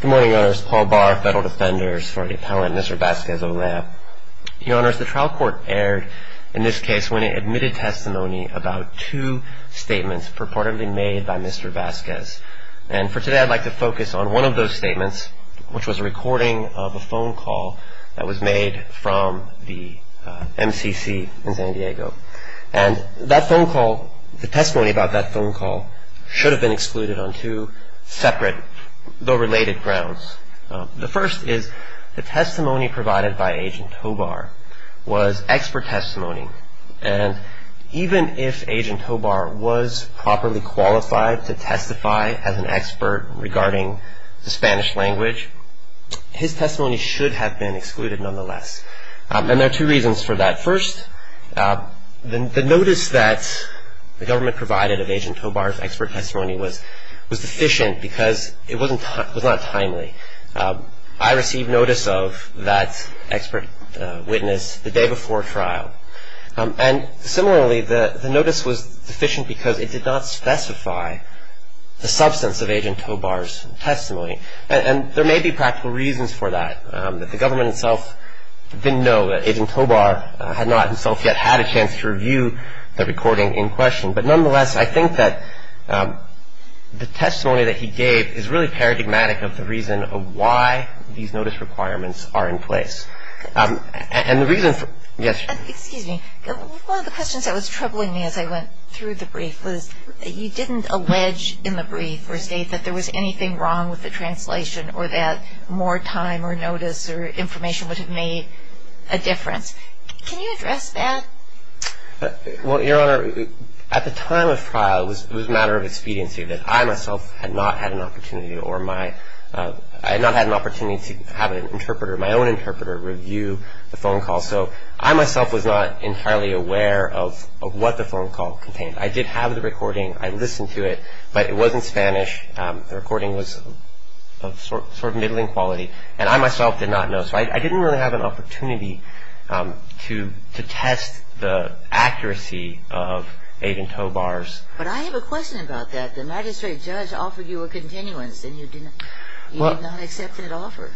Good morning, Your Honors. Paul Barr, Federal Defender, Sorority Appellant, Mr. Vasquez-Olea. Your Honors, the trial court erred in this case when it admitted testimony about two statements purportedly made by Mr. Vasquez. And for today, I'd like to focus on one of those statements, which was a recording of a phone call that was made from the MCC in San Diego. And that phone call, the testimony about that phone call, should have been excluded on two separate, though related, grounds. The first is the testimony provided by Agent Hobart was expert testimony. And even if Agent Hobart was properly qualified to testify as an expert regarding the Spanish language, his testimony should have been excluded nonetheless. And there are two reasons for that. First, the notice that the government provided of Agent Hobart's expert testimony was deficient because it was not timely. I received notice of that expert witness the day before trial. And similarly, the notice was deficient because it did not specify the substance of Agent Hobart's testimony. And there may be practical reasons for that, that the government itself didn't know that Agent Hobart had not himself yet had a chance to review the recording in question. But nonetheless, I think that the testimony that he gave is really paradigmatic of the reason of why these notice requirements are in place. And the reason for – yes. Excuse me. One of the questions that was troubling me as I went through the brief was, you didn't allege in the brief or state that there was anything wrong with the translation or that more time or notice or information would have made a difference. Can you address that? Well, Your Honor, at the time of trial, it was a matter of expediency, that I myself had not had an opportunity or my – I had not had an opportunity to have an interpreter, my own interpreter, review the phone call. So I myself was not entirely aware of what the phone call contained. I did have the recording. I listened to it. But it wasn't Spanish. The recording was of sort of middling quality. And I myself did not know. So I didn't really have an opportunity to test the accuracy of Agent Hobart's. But I have a question about that. The magistrate judge offered you a continuance, and you did not – you did not accept that offer.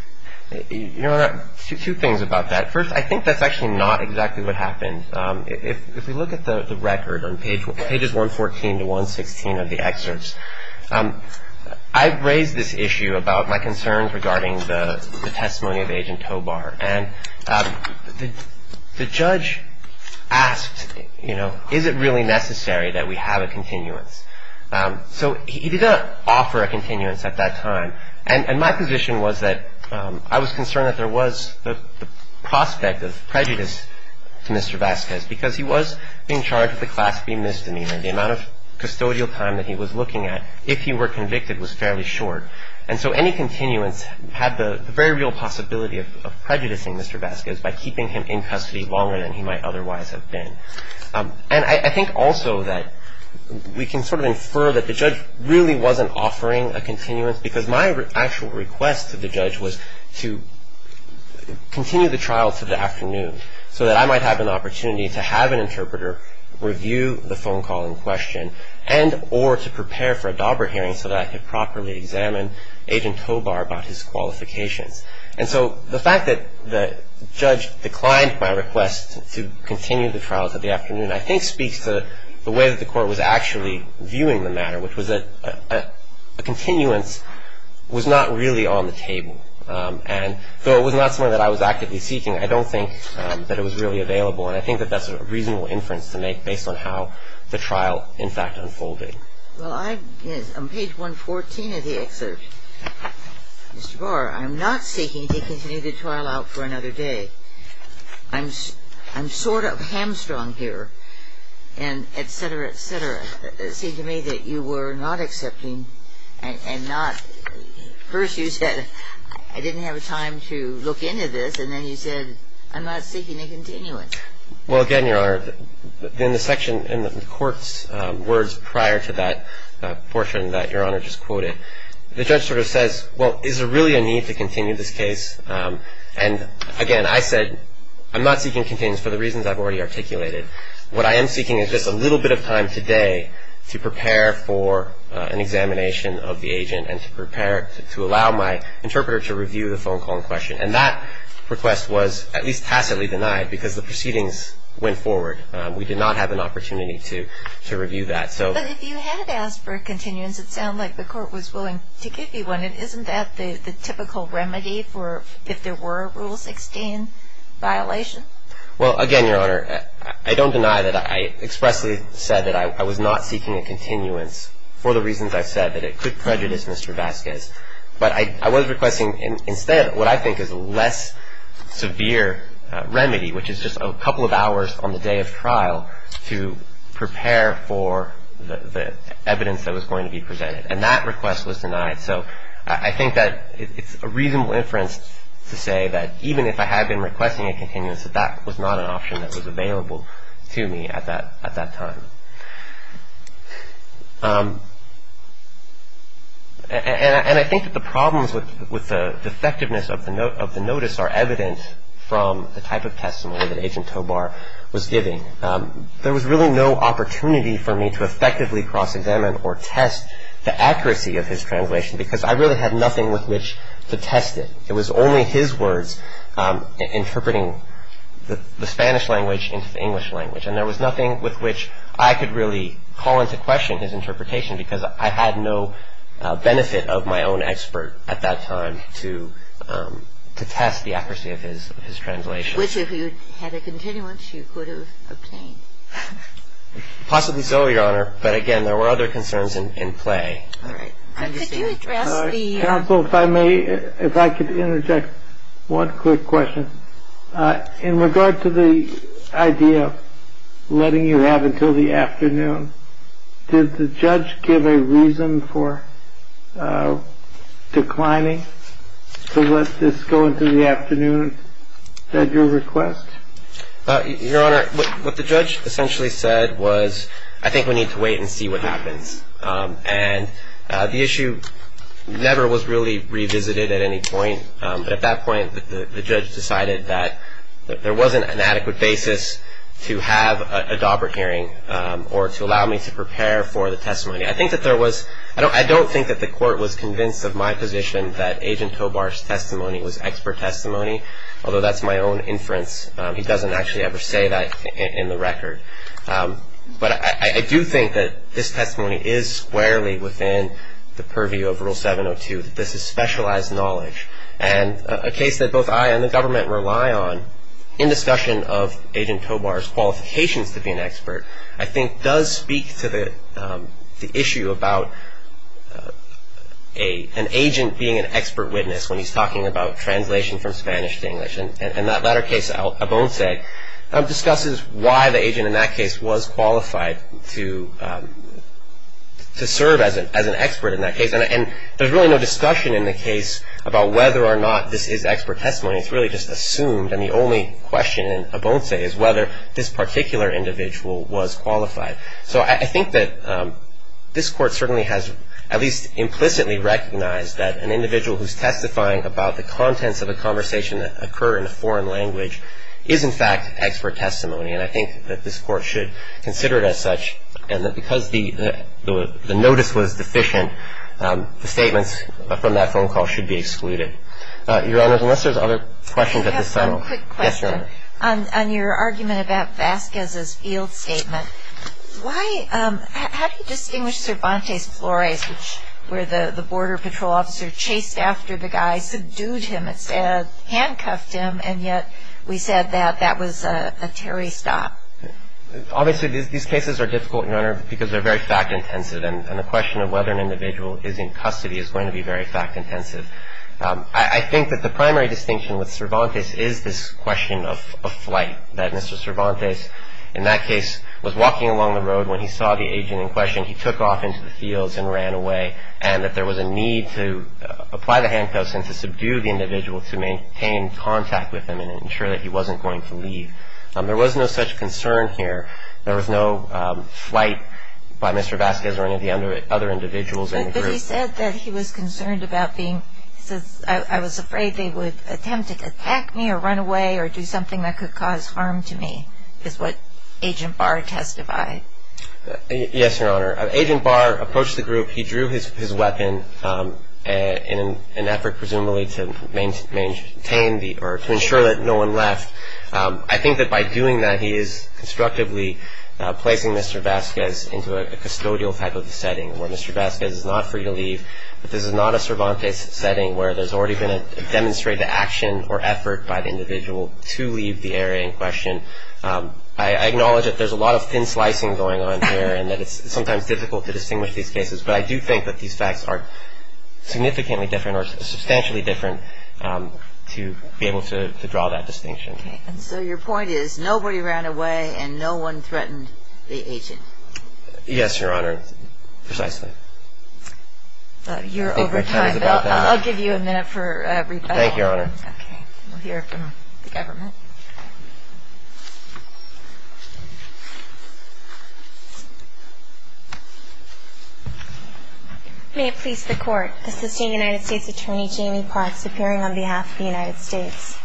Your Honor, two things about that. First, I think that's actually not exactly what happened. If we look at the record on pages 114 to 116 of the excerpts, I raised this issue about my concerns regarding the testimony of Agent Hobart. And the judge asked, you know, is it really necessary that we have a continuance? So he did not offer a continuance at that time. And my position was that I was concerned that there was the prospect of prejudice to Mr. Vasquez because he was being charged with a class B misdemeanor. The amount of custodial time that he was looking at if he were convicted was fairly short. And so any continuance had the very real possibility of prejudicing Mr. Vasquez by keeping him in custody longer than he might otherwise have been. And I think also that we can sort of infer that the judge really wasn't offering a continuance because my actual request to the judge was to continue the trial to the afternoon so that I might have an opportunity to have an interpreter review the phone call in question and or to prepare for a DABRA hearing so that I could properly examine Agent Hobart about his qualifications. And so the fact that the judge declined my request to continue the trial to the afternoon, I think speaks to the way that the Court was actually viewing the matter, which was that a continuance was not really on the table. And though it was not something that I was actively seeking, I don't think that it was really available. And I think that that's a reasonable inference to make based on how the trial, in fact, unfolded. Well, on page 114 of the excerpt, Mr. Barr, I'm not seeking to continue the trial out for another day. I'm sort of hamstrung here and et cetera, et cetera. It seemed to me that you were not accepting and not – first you said I didn't have time to look into this and then you said I'm not seeking a continuance. Well, again, Your Honor, in the section in the Court's words prior to that portion that Your Honor just quoted, the judge sort of says, well, is there really a need to continue this case? And, again, I said I'm not seeking continuance for the reasons I've already articulated. What I am seeking is just a little bit of time today to prepare for an examination of the agent and to prepare to allow my interpreter to review the phone call in question. And that request was at least tacitly denied because the proceedings went forward. We did not have an opportunity to review that. But if you had asked for a continuance, it sounded like the Court was willing to give you one. And isn't that the typical remedy for if there were Rule 16 violations? Well, again, Your Honor, I don't deny that I expressly said that I was not seeking a continuance for the reasons I've said, that it could prejudice Mr. Vasquez. But I was requesting instead what I think is a less severe remedy, which is just a couple of hours on the day of trial to prepare for the evidence that was going to be presented. And that request was denied. So I think that it's a reasonable inference to say that even if I had been requesting a continuance, that that was not an option that was available to me at that time. And I think that the problems with the effectiveness of the notice are evident from the type of testimony that Agent Tobar was giving. There was really no opportunity for me to effectively cross-examine or test the accuracy of his translation because I really had nothing with which to test it. It was only his words interpreting the Spanish language into the English language. And there was nothing with which I could really call into question his interpretation because I had no benefit of my own expert at that time to test the accuracy of his translation. Which, if you had a continuance, you could have obtained. Possibly so, Your Honor. But again, there were other concerns in play. All right. I understand. Counsel, if I may, if I could interject one quick question. In regard to the idea of letting you have until the afternoon, did the judge give a reason for declining to let this go into the afternoon, at your request? Your Honor, what the judge essentially said was, I think we need to wait and see what happens. And the issue never was really revisited at any point, but at that point the judge decided that there wasn't an adequate basis to have a Daubert hearing I don't think that the court was convinced of my position that Agent Tobar's testimony was expert testimony, although that's my own inference. He doesn't actually ever say that in the record. But I do think that this testimony is squarely within the purview of Rule 702, that this is specialized knowledge. And a case that both I and the government rely on, in discussion of Agent Tobar's qualifications to be an expert, I think does speak to the issue about an agent being an expert witness when he's talking about translation from Spanish to English. And that latter case, Obonse, discusses why the agent in that case was qualified to serve as an expert in that case. And there's really no discussion in the case about whether or not this is expert testimony. It's really just assumed. And the only question in Obonse is whether this particular individual was qualified. So I think that this Court certainly has at least implicitly recognized that an individual who's testifying about the contents of a conversation that occur in a foreign language is, in fact, expert testimony. And I think that this Court should consider it as such. And that because the notice was deficient, the statements from that phone call should be excluded. Your Honor, unless there's other questions at this time. I have one quick question. Yes, Your Honor. On your argument about Vasquez's field statement, how do you distinguish Cervantes Flores, where the Border Patrol officer chased after the guy, subdued him instead of handcuffed him, and yet we said that that was a Terry stop? Obviously, these cases are difficult, Your Honor, because they're very fact-intensive. And the question of whether an individual is in custody is going to be very fact-intensive. I think that the primary distinction with Cervantes is this question of flight, that Mr. Cervantes in that case was walking along the road when he saw the agent in question. He took off into the fields and ran away, and that there was a need to apply the handcuffs and to subdue the individual to maintain contact with him and ensure that he wasn't going to leave. There was no such concern here. There was no flight by Mr. Vasquez or any of the other individuals in the group. You said that he was concerned about being, he says, I was afraid they would attempt to attack me or run away or do something that could cause harm to me, is what Agent Barr testified. Yes, Your Honor. Agent Barr approached the group. He drew his weapon in an effort presumably to maintain or to ensure that no one left. I think that by doing that, he is constructively placing Mr. Vasquez into a custodial type of setting where Mr. Vasquez is not free to leave, but this is not a Cervantes setting where there's already been a demonstrated action or effort by the individual to leave the area in question. I acknowledge that there's a lot of thin slicing going on here and that it's sometimes difficult to distinguish these cases, but I do think that these facts are significantly different or substantially different to be able to draw that distinction. And so your point is nobody ran away and no one threatened the agent. Yes, Your Honor, precisely. You're over time. I'll give you a minute for a rebuttal. Thank you, Your Honor. Okay. We'll hear from the government. May it please the Court, Assisting United States Attorney Jamie Parks appearing on behalf of the United States.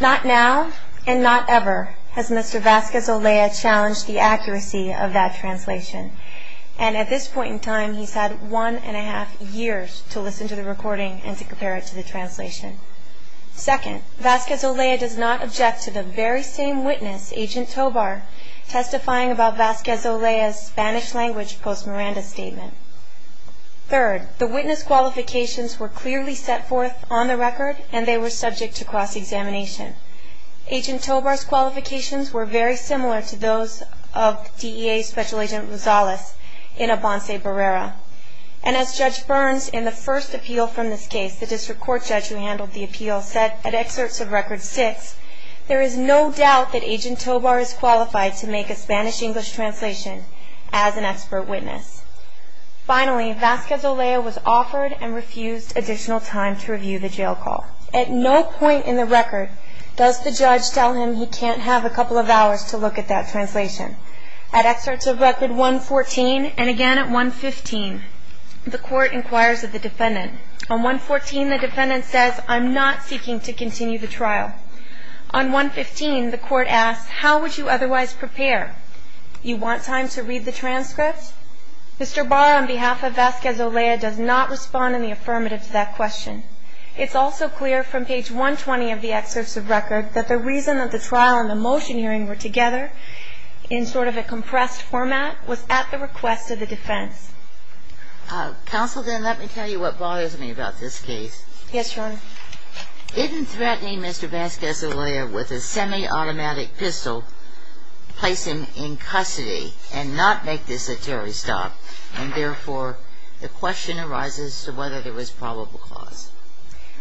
Not now and not ever has Mr. Vasquez-Olea challenged the accuracy of that translation. And at this point in time, he's had one and a half years to listen to the recording and to compare it to the translation. Second, Vasquez-Olea does not object to the very same witness, Agent Tobar, testifying about Vasquez-Olea's Spanish language post-Miranda statement. Third, the witness qualifications were clearly set forth on the record and they were subject to cross-examination. Agent Tobar's qualifications were very similar to those of DEA Special Agent Rosales in a Bonsai Barrera. And as Judge Burns in the first appeal from this case, the district court judge who handled the appeal, said at excerpts of record six, there is no doubt that Agent Tobar is qualified to make a Spanish-English translation as an expert witness. Finally, Vasquez-Olea was offered and refused additional time to review the jail call. At no point in the record does the judge tell him he can't have a couple of hours to look at that translation. At excerpts of record 114 and again at 115, the court inquires of the defendant. On 114, the defendant says, I'm not seeking to continue the trial. On 115, the court asks, how would you otherwise prepare? You want time to read the transcripts? Mr. Barr, on behalf of Vasquez-Olea, does not respond in the affirmative to that question. It's also clear from page 120 of the excerpts of record that the reason that the trial and the motion hearing were together in sort of a compressed format was at the request of the defense. Counsel, then let me tell you what bothers me about this case. Yes, Your Honor. Isn't threatening Mr. Vasquez-Olea with a semi-automatic pistol placed him in custody and not make this a Terry Stop? And therefore, the question arises to whether there was probable cause.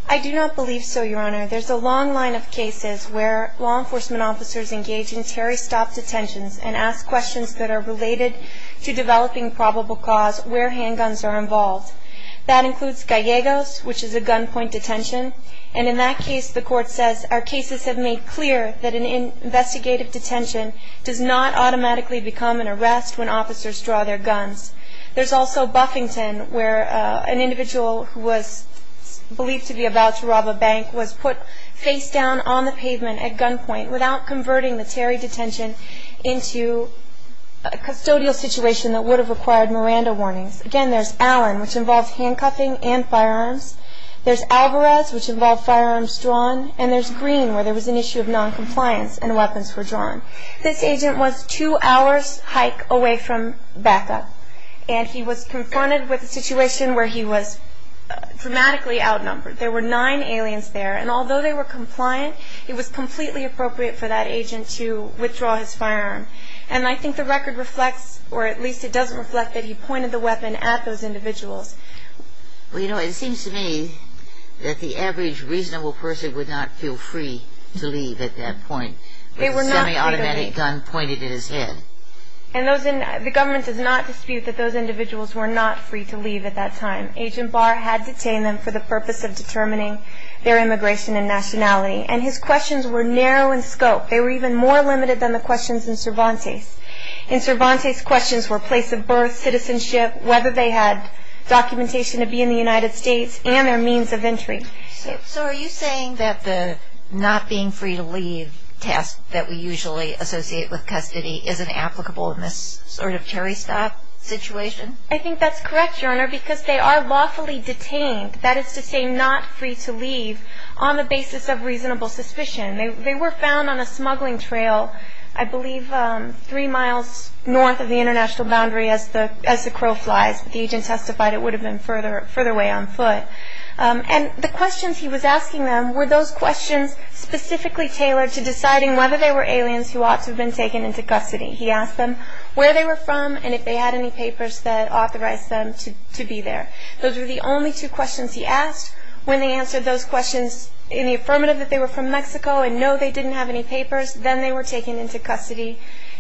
I do not believe so, Your Honor. There's a long line of cases where law enforcement officers engage in Terry Stop detentions and ask questions that are related to developing probable cause where handguns are involved. That includes Gallegos, which is a gunpoint detention. And in that case, the court says, our cases have made clear that an investigative detention does not automatically become an arrest when officers draw their guns. There's also Buffington, where an individual who was believed to be about to rob a bank was put face down on the pavement at gunpoint without converting the Terry detention into a custodial situation that would have required Miranda warnings. Again, there's Allen, which involves handcuffing and firearms. There's Alvarez, which involved firearms drawn. And there's Green, where there was an issue of noncompliance and weapons were drawn. This agent was two hours' hike away from backup, and he was confronted with a situation where he was dramatically outnumbered. There were nine aliens there, and although they were compliant, it was completely appropriate for that agent to withdraw his firearm. And I think the record reflects, or at least it doesn't reflect, that he pointed the weapon at those individuals. Well, you know, it seems to me that the average reasonable person would not feel free to leave at that point with a semiautomatic gun pointed at his head. And the government does not dispute that those individuals were not free to leave at that time. Agent Barr had detained them for the purpose of determining their immigration and nationality, and his questions were narrow in scope. They were even more limited than the questions in Cervantes. In Cervantes, questions were place of birth, citizenship, whether they had documentation to be in the United States, and their means of entry. So are you saying that the not being free to leave task that we usually associate with custody isn't applicable in this sort of cherry-stop situation? I think that's correct, Your Honor, because they are lawfully detained. That is to say, not free to leave on the basis of reasonable suspicion. They were found on a smuggling trail, I believe three miles north of the international boundary, as the crow flies. The agent testified it would have been further away on foot. And the questions he was asking them were those questions specifically tailored to deciding whether they were aliens who ought to have been taken into custody. He asked them where they were from and if they had any papers that authorized them to be there. Those were the only two questions he asked. When they answered those questions in the affirmative that they were from Mexico and know they didn't have any papers, then they were taken into custody.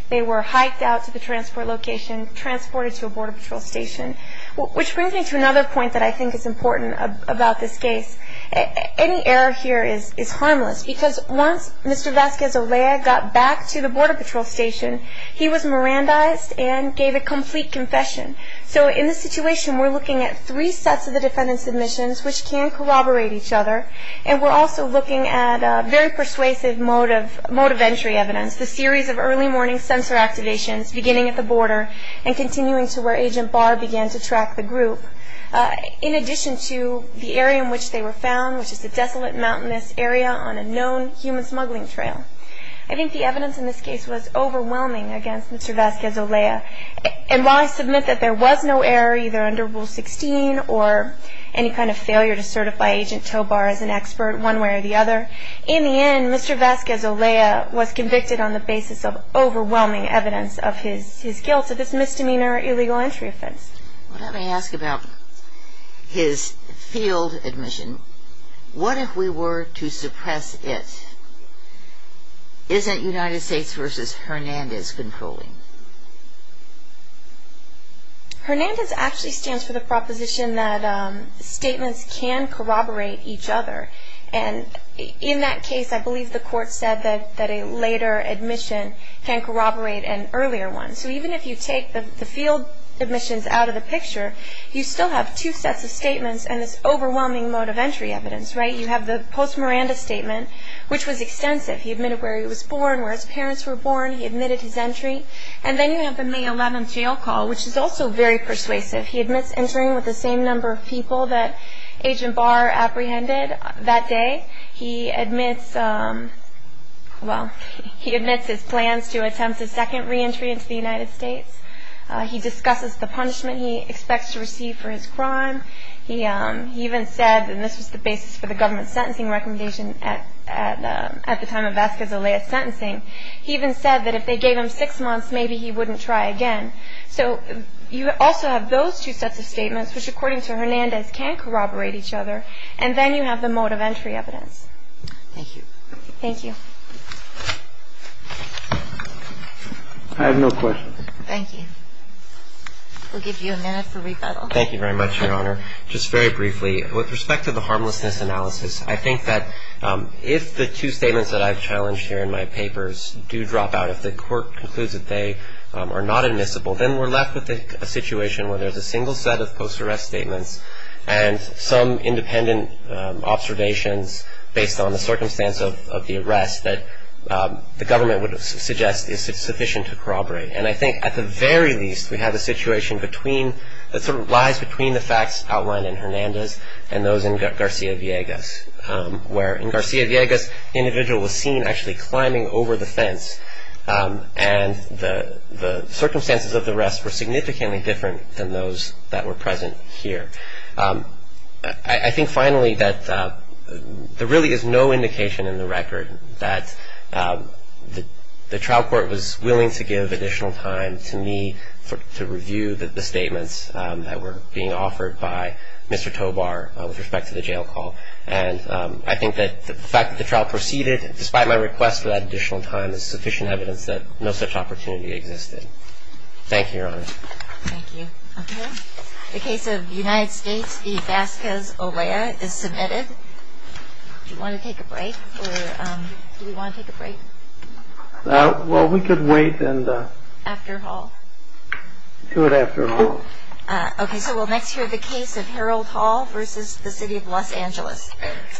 They were hiked out to the transport location, transported to a border patrol station. Which brings me to another point that I think is important about this case. Any error here is harmless, because once Mr. Vasquez-Olea got back to the border patrol station, he was Mirandized and gave a complete confession. So in this situation, we're looking at three sets of the defendant's admissions, which can corroborate each other. And we're also looking at a very persuasive mode of entry evidence, the series of early morning sensor activations beginning at the border and continuing to where Agent Barr began to track the group, in addition to the area in which they were found, which is a desolate mountainous area on a known human smuggling trail. I think the evidence in this case was overwhelming against Mr. Vasquez-Olea. And while I submit that there was no error, either under Rule 16 or any kind of failure to certify Agent Tobar as an expert one way or the other, in the end, Mr. Vasquez-Olea was convicted on the basis of overwhelming evidence of his guilt of this misdemeanor illegal entry offense. Let me ask about his field admission. What if we were to suppress it? Isn't United States v. Hernandez controlling? Hernandez actually stands for the proposition that statements can corroborate each other. And in that case, I believe the court said that a later admission can corroborate an earlier one. So even if you take the field admissions out of the picture, you still have two sets of statements and this overwhelming mode of entry evidence, right? You have the post-Miranda statement, which was extensive. He admitted where he was born, where his parents were born. He admitted his entry. And then you have the May 11th jail call, which is also very persuasive. He admits entering with the same number of people that Agent Bar apprehended that day. He admits his plans to attempt a second reentry into the United States. He discusses the punishment he expects to receive for his crime. He even said, and this was the basis for the government sentencing recommendation at the time of Vasquez-Elliot's sentencing, he even said that if they gave him six months, maybe he wouldn't try again. So you also have those two sets of statements, which, according to Hernandez, can corroborate each other. And then you have the mode of entry evidence. Thank you. Thank you. I have no questions. Thank you. We'll give you a minute for rebuttal. Thank you very much, Your Honor. Just very briefly, with respect to the harmlessness analysis, I think that if the two statements that I've challenged here in my papers do drop out, if the court concludes that they are not admissible, then we're left with a situation where there's a single set of post-arrest statements and some independent observations based on the circumstance of the arrest that the government would suggest is sufficient to corroborate. And I think at the very least, we have a situation that sort of lies between the facts outlined in Hernandez and those in Garcia-Villegas, where in Garcia-Villegas, the individual was seen actually climbing over the fence, and the circumstances of the arrest were significantly different than those that were present here. I think finally that there really is no indication in the record that the trial court was willing to give additional time to me to review the statements that were being offered by Mr. Tobar with respect to the jail call. And I think that the fact that the trial proceeded, despite my request for that additional time, is sufficient evidence that no such opportunity existed. Thank you, Your Honor. Thank you. Okay. The case of United States v. Vasquez-Olea is submitted. Do you want to take a break, or do we want to take a break? Well, we could wait and— After Hall. Do it after Hall. Okay, so we'll next hear the case of Harold Hall v. the City of Los Angeles.